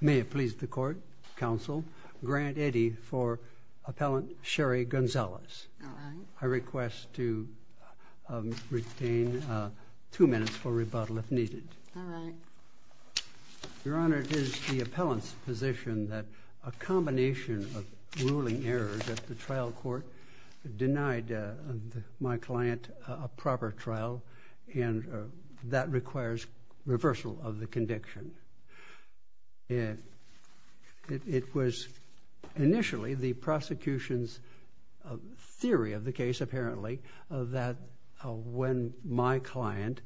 May it please the Court, Counsel, Grant Eddy for Appellant Chery Gonzalez. I request to retain two minutes for rebuttal if needed. Your Honor, it is the Appellant's position that a combination of ruling errors at the trial court denied my client a proper trial and that requires reversal of the conviction. It was initially the prosecution's theory of the case apparently that when my client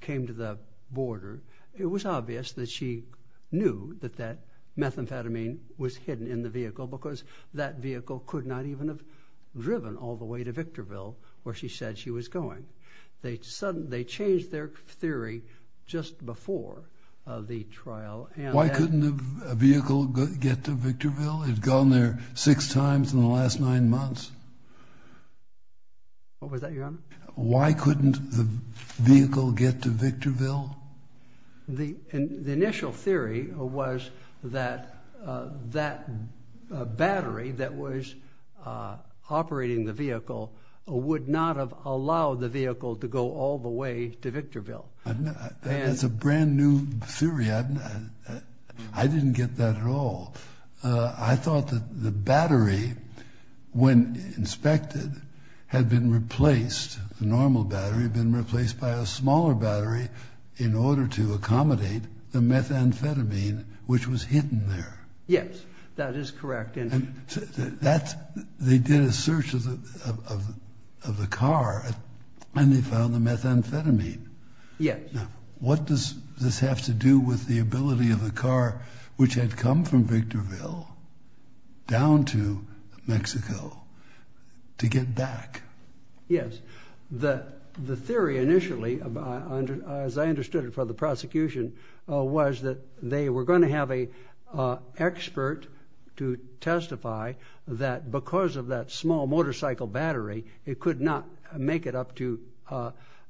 came to the border it was obvious that she knew that that methamphetamine was hidden in the vehicle because that vehicle could not even have driven all the way to Victorville where she said she was going. They changed their theory just before the trial. Why couldn't a vehicle get to Victorville? It's gone there six times in the last nine months. What was that, Your Honor? Why couldn't the vehicle get to Victorville? The initial theory was that that battery that was operating the vehicle would not have allowed the vehicle to go all the way to Victorville. That's a brand new theory. I didn't get that at all. I thought that the battery when inspected had been replaced, the normal battery, been replaced by a smaller battery in order to accommodate the methamphetamine which was hidden there. Yes, that is correct. They did a search of the car and they found the methamphetamine. Yes. What does this have to do with the ability of the car which had come from Victorville down to Mexico to get back? Yes. The theory initially, as I understood it from the prosecution, was that they were going to have an expert to testify that because of that small motorcycle battery it could not make it up to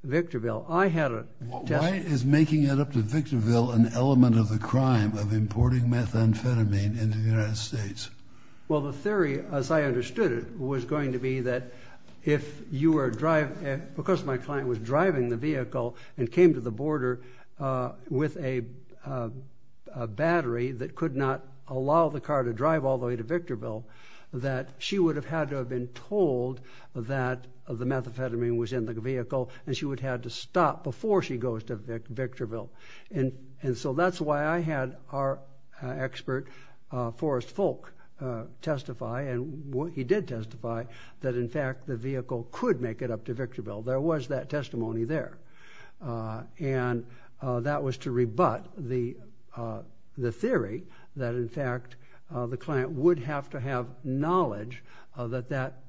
Victorville. Why is making it up to Victorville an element of the crime of importing methamphetamine into the United States? Well, the theory, as I understood it, was going to be that because my client was driving the vehicle and came to the border with a battery that could not allow the car to drive all the way to Victorville, that she would have had to have been told that the methamphetamine was in the vehicle and she would have had to stop before she goes to Victorville. And so that's why I had our expert Forrest Folk testify, and he did testify, that in fact the vehicle could make it up to Victorville. There was that testimony there. And that was to rebut the theory that in fact the client would have to have knowledge that that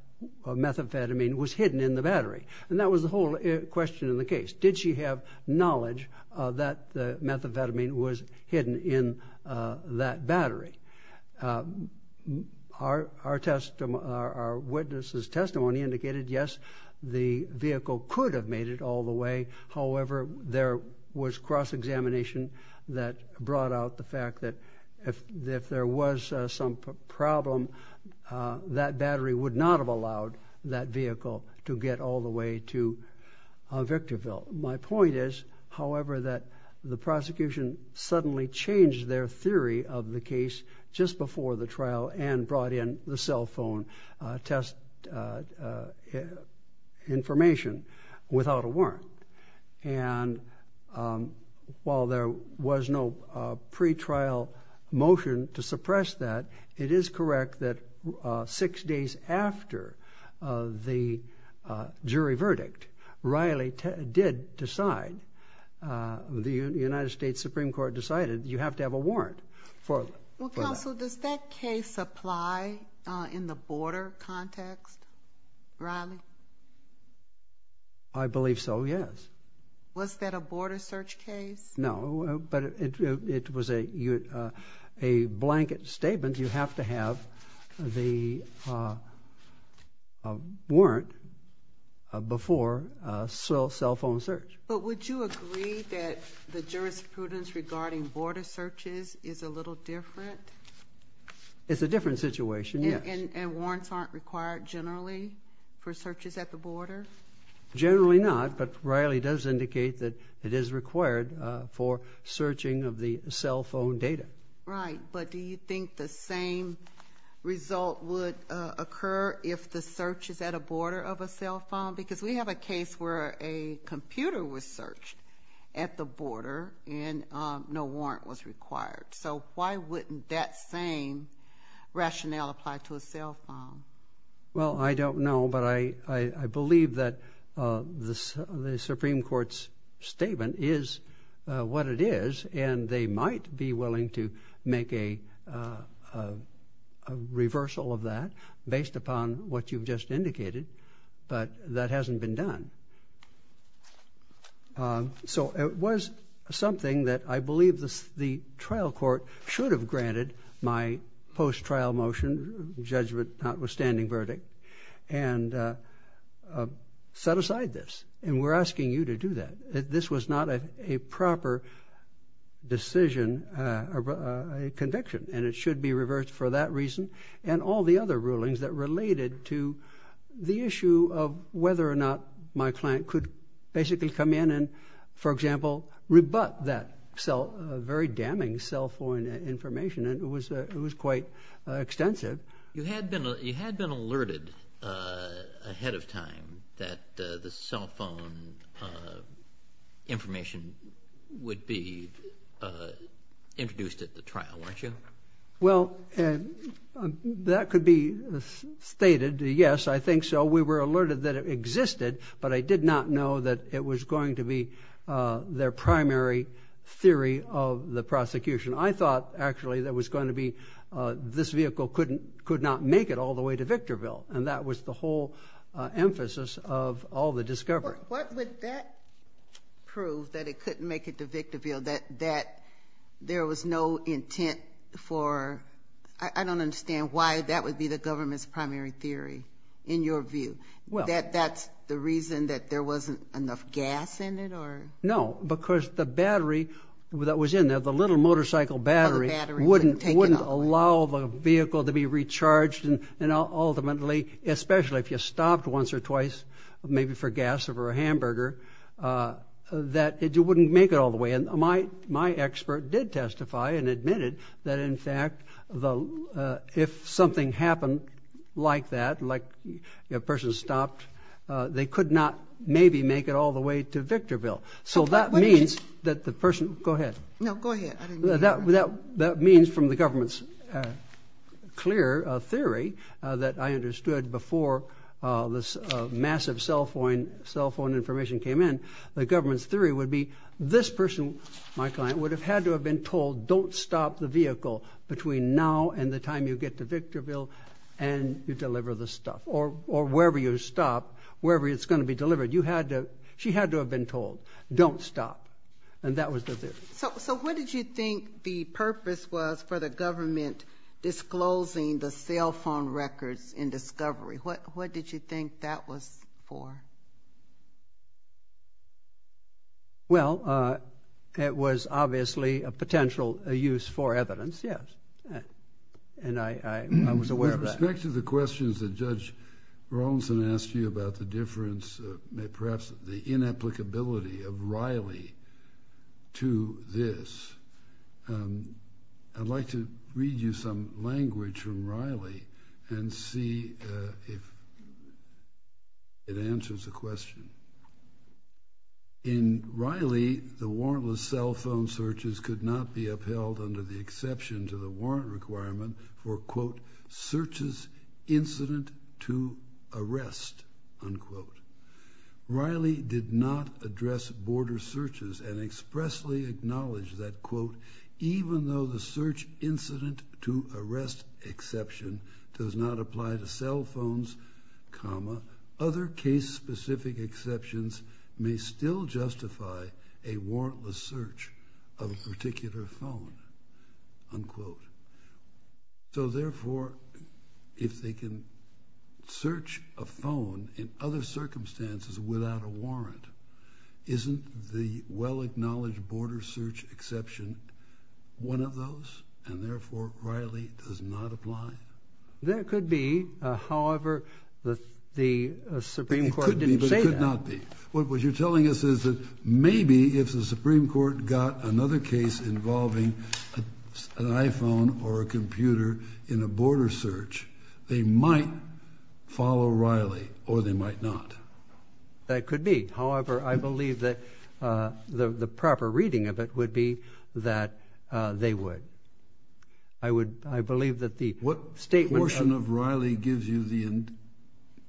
methamphetamine was hidden in the battery. And that was the whole question in the case. Did she have knowledge that the methamphetamine was hidden in that battery? Our witness's testimony indicated, yes, the vehicle could have made it all the way. However, there was cross-examination that brought out the fact that if there was some problem, that battery would not have allowed that vehicle to get all the way to Victorville. My point is, however, that the prosecution suddenly changed their theory of the case just before the trial and brought in the cell phone test information without a warrant. And while there was no pretrial motion to suppress that, it is correct that six days after the jury verdict, Riley did decide, the United States Supreme Court decided, you have to have a warrant for that. Well, counsel, does that case apply in the border context, Riley? I believe so, yes. Was that a border search case? No, but it was a blanket statement. You have to have the warrant before cell phone search. But would you agree that the jurisprudence regarding border searches is a little different? It's a different situation, yes. And warrants aren't required generally for searches at the border? Generally not, but Riley does indicate that it is required for searching of the cell phone data. Right, but do you think the same result would occur if the search is at a border of a cell phone? Because we have a case where a computer was searched at the border and no warrant was required. So why wouldn't that same rationale apply to a cell phone? Well, I don't know, but I believe that the Supreme Court's statement is what it is, and they might be willing to make a reversal of that based upon what you've just indicated, but that hasn't been done. So it was something that I believe the trial court should have granted my post-trial motion, judgment notwithstanding verdict, and set aside this, and we're asking you to do that. This was not a proper decision, conviction, and it should be reversed for that reason and all the other rulings that related to the issue of whether or not my client could basically come in and, for example, rebut that very damning cell phone information, and it was quite extensive. You had been alerted ahead of time that the cell phone information would be introduced at the trial, weren't you? Well, that could be stated, yes, I think so. We were alerted that it existed, but I did not know that it was going to be their primary theory of the prosecution. I thought, actually, that this vehicle could not make it all the way to Victorville, and that was the whole emphasis of all the discovery. What would that prove, that it couldn't make it to Victorville, that there was no intent for – I don't understand why that would be the government's primary theory, in your view. That that's the reason that there wasn't enough gas in it? No, because the battery that was in there, the little motorcycle battery, wouldn't allow the vehicle to be recharged, and ultimately, especially if you stopped once or twice, maybe for gas or a hamburger, that it wouldn't make it all the way. And my expert did testify and admitted that, in fact, if something happened like that, like a person stopped, they could not maybe make it all the way to Victorville. So that means that the person – go ahead. No, go ahead. That means, from the government's clear theory that I understood before this massive cell phone information came in, the government's theory would be this person, my client, would have had to have been told, don't stop the vehicle between now and the time you get to Victorville and you deliver the stuff, or wherever you stop, wherever it's going to be delivered. You had to – she had to have been told, don't stop, and that was the theory. So what did you think the purpose was for the government disclosing the cell phone records in discovery? What did you think that was for? Well, it was obviously a potential use for evidence, yes, and I was aware of that. With respect to the questions that Judge Rawlinson asked you about the difference, perhaps the inapplicability of Riley to this, I'd like to read you some language from Riley and see if it answers the question. In Riley, the warrantless cell phone searches could not be upheld under the exception to the warrant requirement for, quote, searches incident to arrest, unquote. Riley did not address border searches and expressly acknowledged that, quote, even though the search incident to arrest exception does not apply to cell phones, comma, other case-specific exceptions may still justify a warrantless search of a particular phone, unquote. So therefore, if they can search a phone in other circumstances without a warrant, isn't the well-acknowledged border search exception one of those, and therefore Riley does not apply? That could be, however, the Supreme Court didn't say that. What you're telling us is that maybe if the Supreme Court got another case involving an iPhone or a computer in a border search, they might follow Riley or they might not. That could be, however, I believe that the proper reading of it would be that they would. What portion of Riley gives you the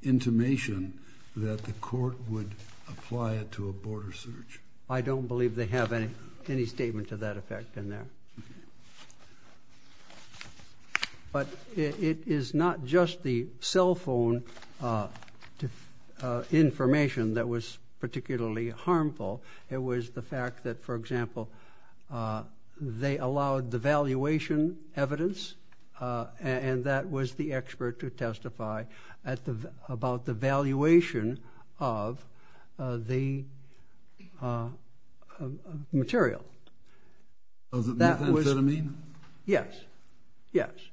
intimation that the court would apply it to a border search? I don't believe they have any statement to that effect in there. But it is not just the cell phone information that was particularly harmful. It was the fact that, for example, they allowed the valuation evidence and that was the expert to testify about the valuation of the material. Was it methamphetamine? Yes.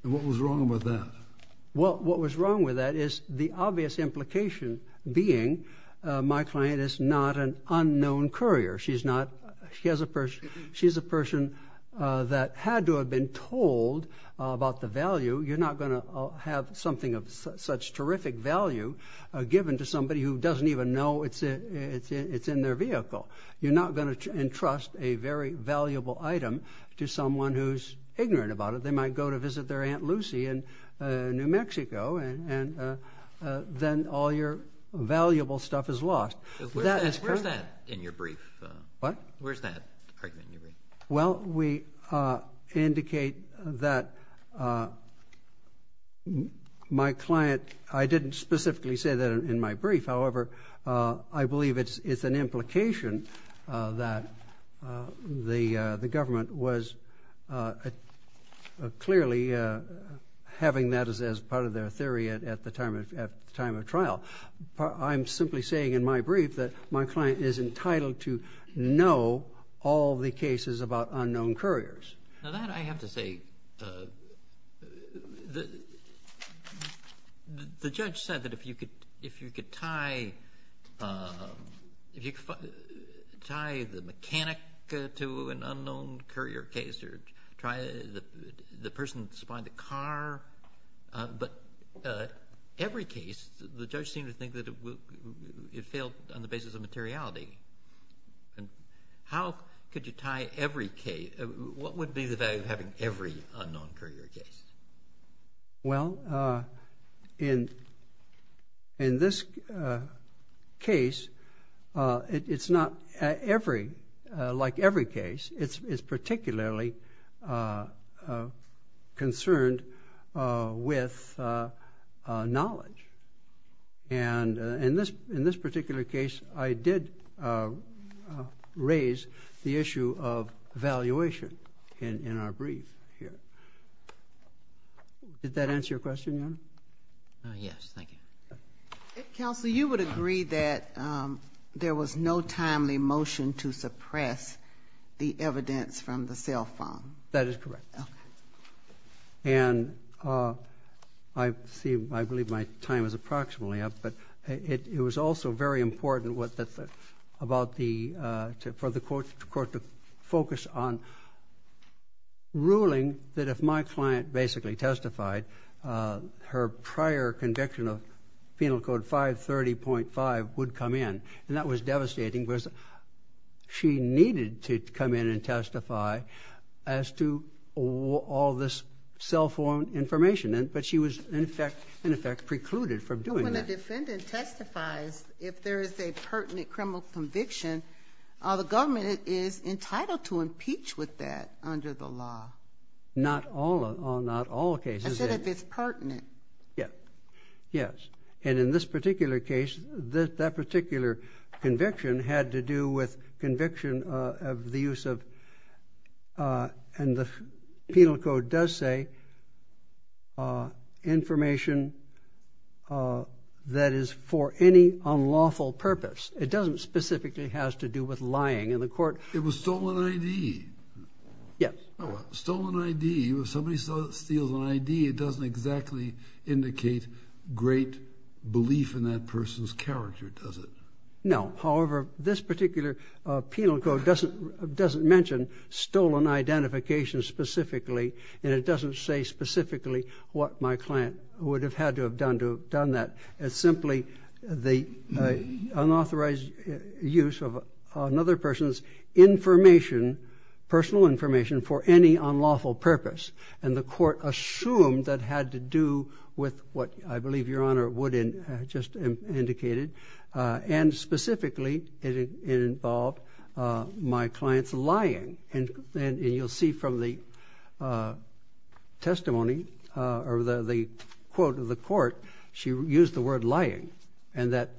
And what was wrong with that? Well, what was wrong with that is the obvious implication being my client is not an unknown courier. She's a person that had to have been told about the value. You're not going to have something of such terrific value given to somebody who doesn't even know it's in their vehicle. You're not going to entrust a very valuable item to someone who's ignorant about it. They might go to visit their Aunt Lucy in New Mexico and then all your valuable stuff is lost. Where's that in your brief? What? Where's that argument in your brief? Well, we indicate that my client – I didn't specifically say that in my brief. However, I believe it's an implication that the government was clearly having that as part of their theory at the time of trial. I'm simply saying in my brief that my client is entitled to know all the cases about unknown couriers. Now, that I have to say – the judge said that if you could tie the mechanic to an unknown courier case or try the person that supplied the car, but every case the judge seemed to think that it failed on the basis of materiality. How could you tie every case? What would be the value of having every unknown courier case? Well, in this case, it's not like every case. It's particularly concerned with knowledge. And in this particular case, I did raise the issue of valuation in our brief here. Did that answer your question, Your Honor? Yes, thank you. Counsel, you would agree that there was no timely motion to suppress the evidence from the cell phone. That is correct. Okay. And I believe my time is approximately up, but it was also very important for the court to focus on ruling that if my client basically testified, her prior conviction of Penal Code 530.5 would come in. And that was devastating because she needed to come in and testify as to all this cell phone information. But she was, in effect, precluded from doing that. When a defendant testifies, if there is a pertinent criminal conviction, the government is entitled to impeach with that under the law. Not all cases. I said if it's pertinent. Yes. And in this particular case, that particular conviction had to do with conviction of the use of, and the Penal Code does say, information that is for any unlawful purpose. It doesn't specifically have to do with lying. It was stolen ID. Yes. Stolen ID. If somebody steals an ID, it doesn't exactly indicate great belief in that person's character, does it? No. However, this particular Penal Code doesn't mention stolen identification specifically, and it doesn't say specifically what my client would have had to have done to have done that. It's simply the unauthorized use of another person's information, personal information, for any unlawful purpose. And the court assumed that had to do with what I believe Your Honor Wooden just indicated. And specifically, it involved my client's lying. And you'll see from the testimony or the quote of the court, she used the word lying, and that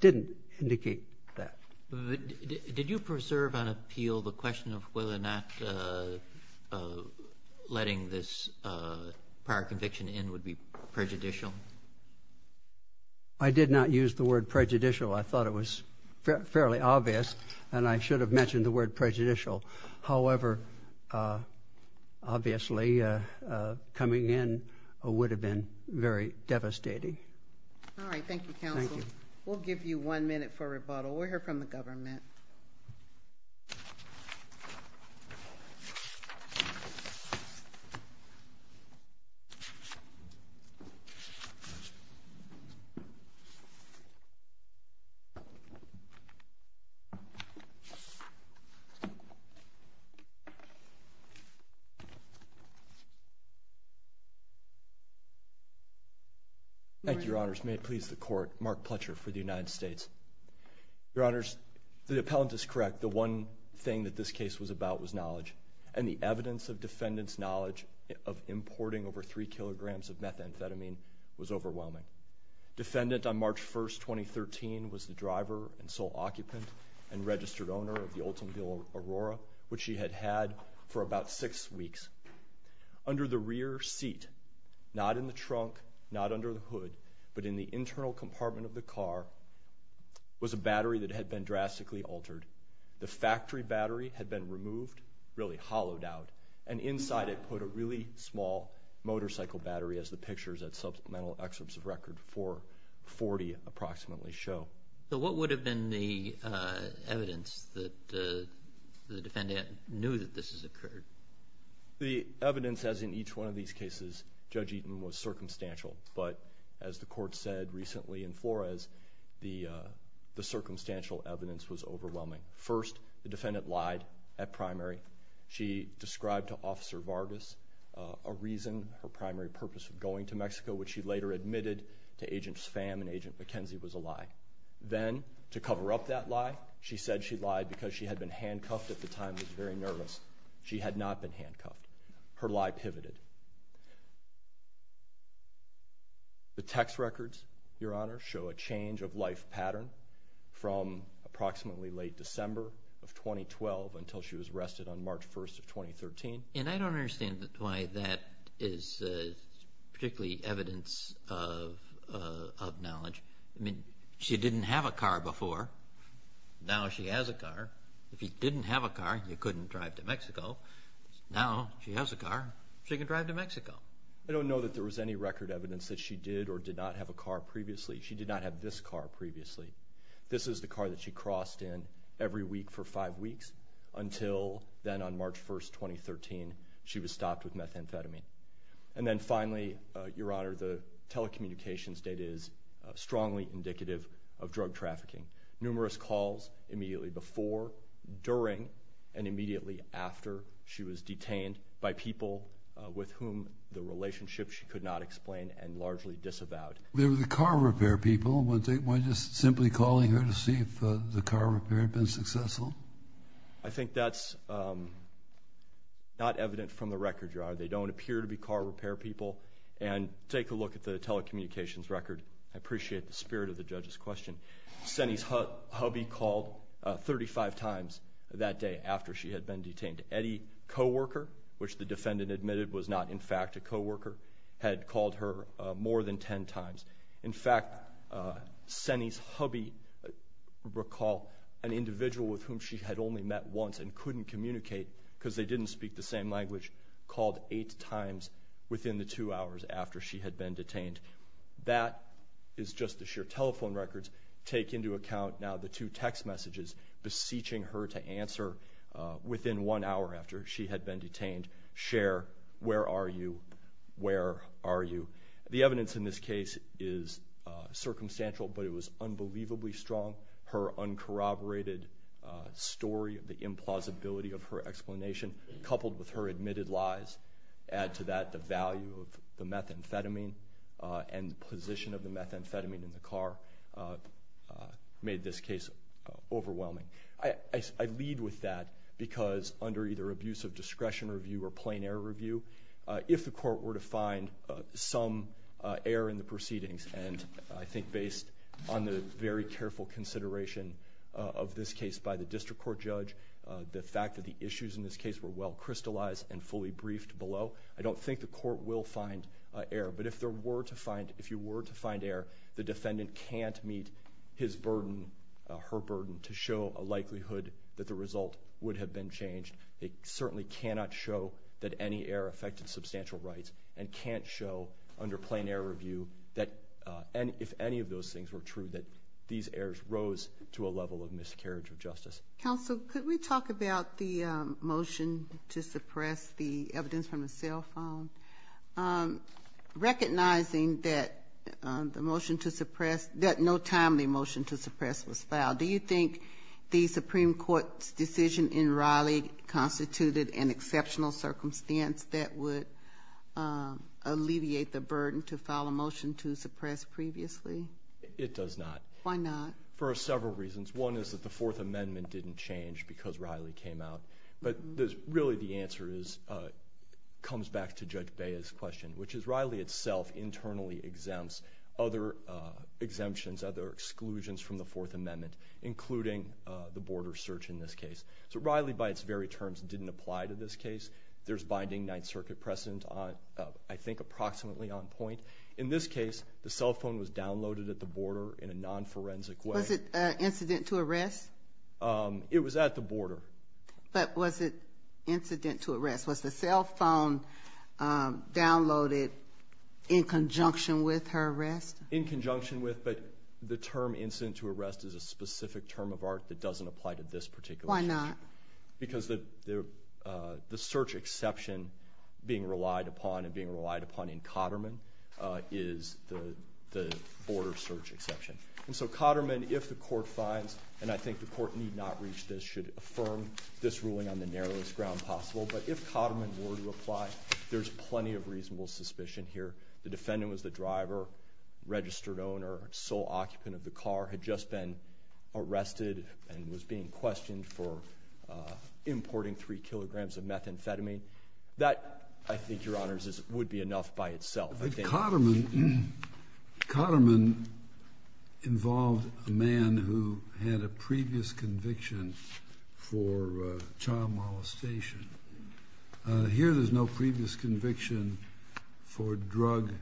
didn't indicate that. Did you preserve on appeal the question of whether or not letting this prior conviction in would be prejudicial? I did not use the word prejudicial. I thought it was fairly obvious, and I should have mentioned the word prejudicial. However, obviously, coming in would have been very devastating. All right. Thank you, counsel. Thank you. We'll give you one minute for rebuttal. We'll hear from the government. Thank you, Your Honors. May it please the court. Mark Pletcher for the United States. Your Honors, the appellant is correct. The one thing that this case was about was knowledge. And the evidence of defendant's knowledge of importing over three kilograms of methamphetamine was overwhelming. She was the driver and sole occupant and registered owner of the Oldsmobile Aurora, which she had had for about six weeks. Under the rear seat, not in the trunk, not under the hood, but in the internal compartment of the car, was a battery that had been drastically altered. The factory battery had been removed, really hollowed out, and inside it put a really small motorcycle battery, as the pictures at supplemental excerpts of record 440 approximately show. So what would have been the evidence that the defendant knew that this has occurred? The evidence, as in each one of these cases, Judge Eaton, was circumstantial. But as the court said recently in Flores, the circumstantial evidence was overwhelming. First, the defendant lied at primary. She described to Officer Vargas a reason, her primary purpose of going to Mexico, which she later admitted to Agents Pham and Agent McKenzie was a lie. Then, to cover up that lie, she said she lied because she had been handcuffed at the time and was very nervous. She had not been handcuffed. Her lie pivoted. The text records, Your Honor, show a change of life pattern from approximately late December of 2012 until she was arrested on March 1st of 2013. And I don't understand why that is particularly evidence of knowledge. I mean, she didn't have a car before. Now she has a car. If you didn't have a car, you couldn't drive to Mexico. Now she has a car. She can drive to Mexico. I don't know that there was any record evidence that she did or did not have a car previously. She did not have this car previously. This is the car that she crossed in every week for five weeks until then on March 1st, 2013, she was stopped with methamphetamine. And then finally, Your Honor, the telecommunications data is strongly indicative of drug trafficking. Numerous calls immediately before, during, and immediately after she was detained by people with whom the relationship she could not explain and largely disavowed. They were the car repair people. Why just simply calling her to see if the car repair had been successful? I think that's not evident from the record, Your Honor. They don't appear to be car repair people. And take a look at the telecommunications record. I appreciate the spirit of the judge's question. Senny's hubby called 35 times that day after she had been detained. Eddie, co-worker, which the defendant admitted was not in fact a co-worker, had called her more than 10 times. In fact, Senny's hubby, recall, an individual with whom she had only met once and couldn't communicate because they didn't speak the same language, called eight times within the two hours after she had been detained. That is just the sheer telephone records. Take into account now the two text messages beseeching her to answer within one hour after she had been detained. Cher, where are you? Where are you? The evidence in this case is circumstantial, but it was unbelievably strong. Her uncorroborated story, the implausibility of her explanation coupled with her admitted lies add to that the value of the methamphetamine. And the position of the methamphetamine in the car made this case overwhelming. I lead with that because under either abuse of discretion review or plain error review, if the court were to find some error in the proceedings, and I think based on the very careful consideration of this case by the district court judge, the fact that the issues in this case were well crystallized and fully briefed below, I don't think the court will find error. But if you were to find error, the defendant can't meet her burden to show a likelihood that the result would have been changed. They certainly cannot show that any error affected substantial rights and can't show under plain error review, if any of those things were true, that these errors rose to a level of miscarriage of justice. Counsel, could we talk about the motion to suppress the evidence from the cell phone? Recognizing that the motion to suppress, that no timely motion to suppress was filed, do you think the Supreme Court's decision in Raleigh constituted an exceptional circumstance that would alleviate the burden to file a motion to suppress previously? It does not. Why not? For several reasons. One is that the Fourth Amendment didn't change because Raleigh came out. But really the answer comes back to Judge Bea's question, which is Raleigh itself internally exempts other exemptions, other exclusions from the Fourth Amendment, including the border search in this case. So Raleigh by its very terms didn't apply to this case. There's binding Ninth Circuit precedent, I think approximately on point. In this case, the cell phone was downloaded at the border in a non-forensic way. Was it incident to arrest? It was at the border. But was it incident to arrest? Was the cell phone downloaded in conjunction with her arrest? In conjunction with, but the term incident to arrest is a specific term of art that doesn't apply to this particular case. Why not? Because the search exception being relied upon and being relied upon in Cotterman is the border search exception. And so Cotterman, if the court finds, and I think the court need not reach this, should affirm this ruling on the narrowest ground possible. But if Cotterman were to apply, there's plenty of reasonable suspicion here. The defendant was the driver, registered owner, sole occupant of the car, had just been arrested and was being questioned for importing three kilograms of methamphetamine. That, I think, Your Honors, would be enough by itself. Cotterman involved a man who had a previous conviction for child molestation. Here there's no previous conviction for drug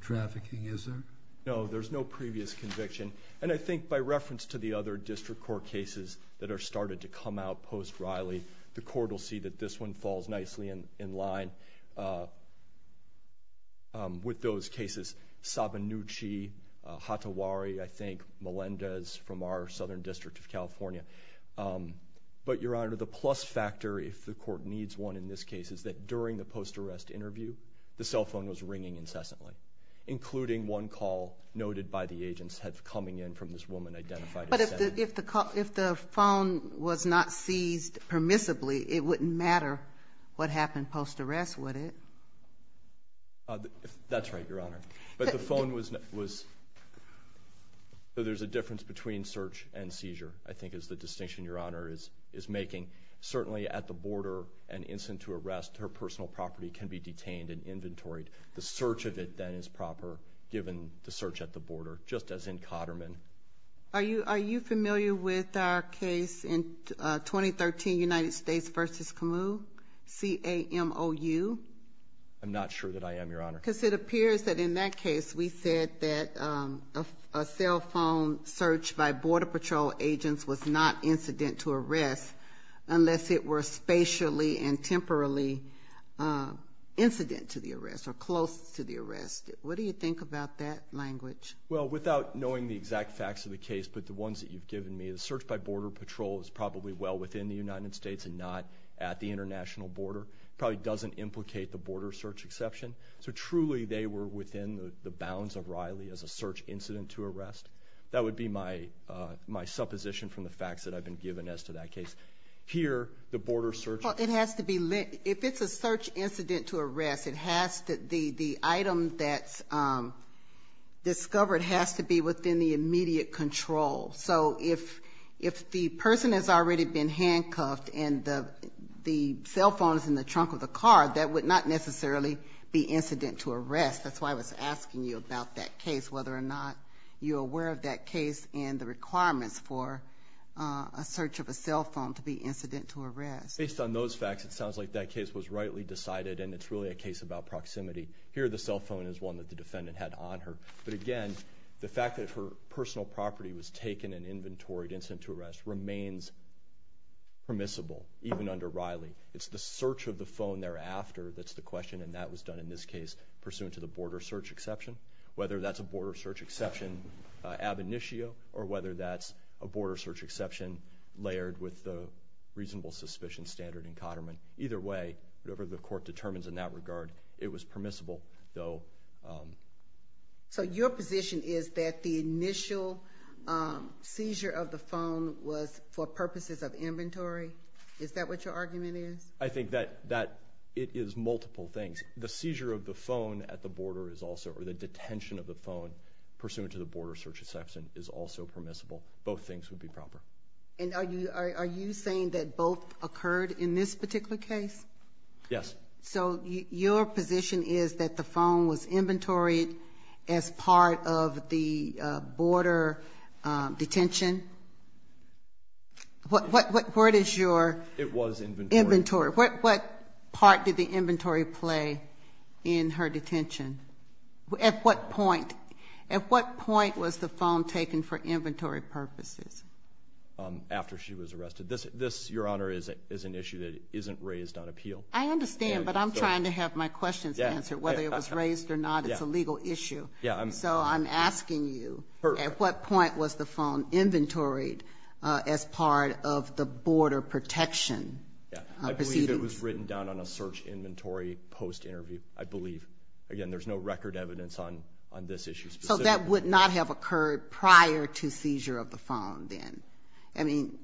trafficking, is there? No, there's no previous conviction. And I think by reference to the other district court cases that have started to come out post-Riley, the court will see that this one falls nicely in line with those cases. Sabinucci, Hatawari, I think, Melendez from our southern district of California. But, Your Honor, the plus factor, if the court needs one in this case, is that during the post-arrest interview the cell phone was ringing incessantly, including one call noted by the agents coming in from this woman identified as Sabinucci. But if the phone was not seized permissibly, it wouldn't matter what happened post-arrest, would it? That's right, Your Honor. But the phone was not seized. There's a difference between search and seizure, I think, is the distinction Your Honor is making. Certainly at the border, an instant to arrest, her personal property can be detained and inventoried. The search of it then is proper, given the search at the border, just as in Cotterman. Are you familiar with our case in 2013, United States v. Camus, C-A-M-O-U? I'm not sure that I am, Your Honor. Because it appears that in that case we said that a cell phone search by Border Patrol agents was not incident to arrest unless it were spatially and temporally incident to the arrest or close to the arrest. What do you think about that language? Well, without knowing the exact facts of the case, but the ones that you've given me, the search by Border Patrol is probably well within the United States and not at the international border. It probably doesn't implicate the border search exception. So truly they were within the bounds of Riley as a search incident to arrest. That would be my supposition from the facts that I've been given as to that case. Here, the border search. Well, it has to be lit. If it's a search incident to arrest, the item that's discovered has to be within the immediate control. So if the person has already been handcuffed and the cell phone is in the trunk of the car, that would not necessarily be incident to arrest. That's why I was asking you about that case, whether or not you're aware of that case and the requirements for a search of a cell phone to be incident to arrest. Based on those facts, it sounds like that case was rightly decided and it's really a case about proximity. Here, the cell phone is one that the defendant had on her. But again, the fact that her personal property was taken and inventoried incident to arrest remains permissible, even under Riley. It's the search of the phone thereafter that's the question, and that was done in this case pursuant to the border search exception, whether that's a border search exception ab initio or whether that's a border search exception layered with the reasonable suspicion standard in Cotterman. Either way, whatever the court determines in that regard, it was permissible, though. So your position is that the initial seizure of the phone was for purposes of inventory? Is that what your argument is? I think that it is multiple things. The seizure of the phone at the border is also, or the detention of the phone pursuant to the border search exception is also permissible. Both things would be proper. And are you saying that both occurred in this particular case? Yes. So your position is that the phone was inventoried as part of the border detention? What is your inventory? What part did the inventory play in her detention? At what point was the phone taken for inventory purposes? After she was arrested. Your Honor, this is an issue that isn't raised on appeal. I understand, but I'm trying to have my questions answered. Whether it was raised or not, it's a legal issue. So I'm asking you, at what point was the phone inventoried as part of the border protection proceedings? I believe it was written down on a search inventory post-interview. I believe. Again, there's no record evidence on this issue specifically. So that would not have occurred prior to seizure of the phone then? I mean,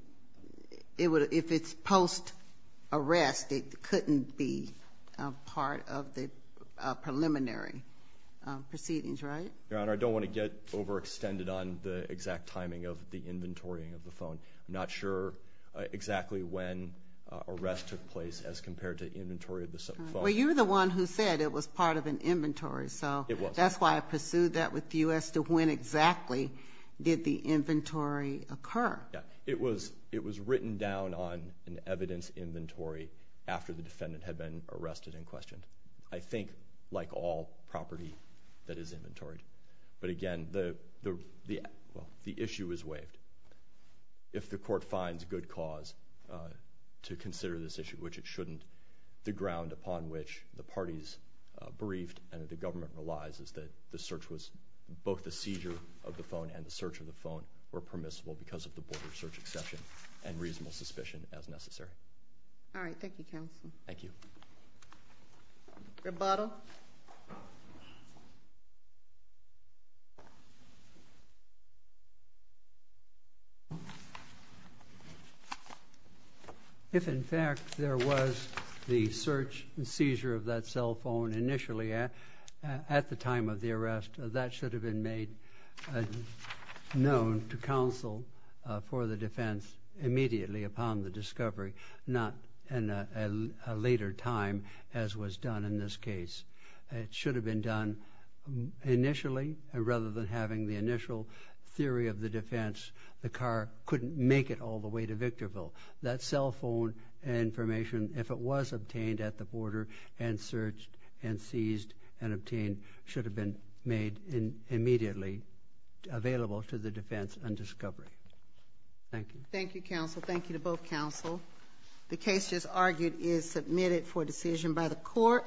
if it's post-arrest, it couldn't be part of the preliminary proceedings, right? Your Honor, I don't want to get overextended on the exact timing of the inventorying of the phone. I'm not sure exactly when arrest took place as compared to inventory of the phone. Well, you're the one who said it was part of an inventory. It was. That's why I pursued that with you as to when exactly did the inventory occur. It was written down on an evidence inventory after the defendant had been arrested and questioned. I think, like all property that is inventoried. But again, the issue is waived. If the court finds good cause to consider this issue, which it shouldn't, the ground upon which the parties briefed and the government relies is that the search was, both the seizure of the phone and the search of the phone were permissible because of the border search exception and reasonable suspicion as necessary. All right. Thank you, counsel. Thank you. Rebuttal. Rebuttal. If, in fact, there was the search and seizure of that cell phone initially at the time of the arrest, that should have been made known to counsel for the defense immediately upon the discovery, not at a later time as was done in this case. It should have been done initially rather than having the initial theory of the defense. The car couldn't make it all the way to Victorville. That cell phone information, if it was obtained at the border and searched and seized and obtained should have been made immediately available to the defense on discovery. Thank you. Thank you, counsel. Thank you to both counsel. The case just argued is submitted for decision by the court.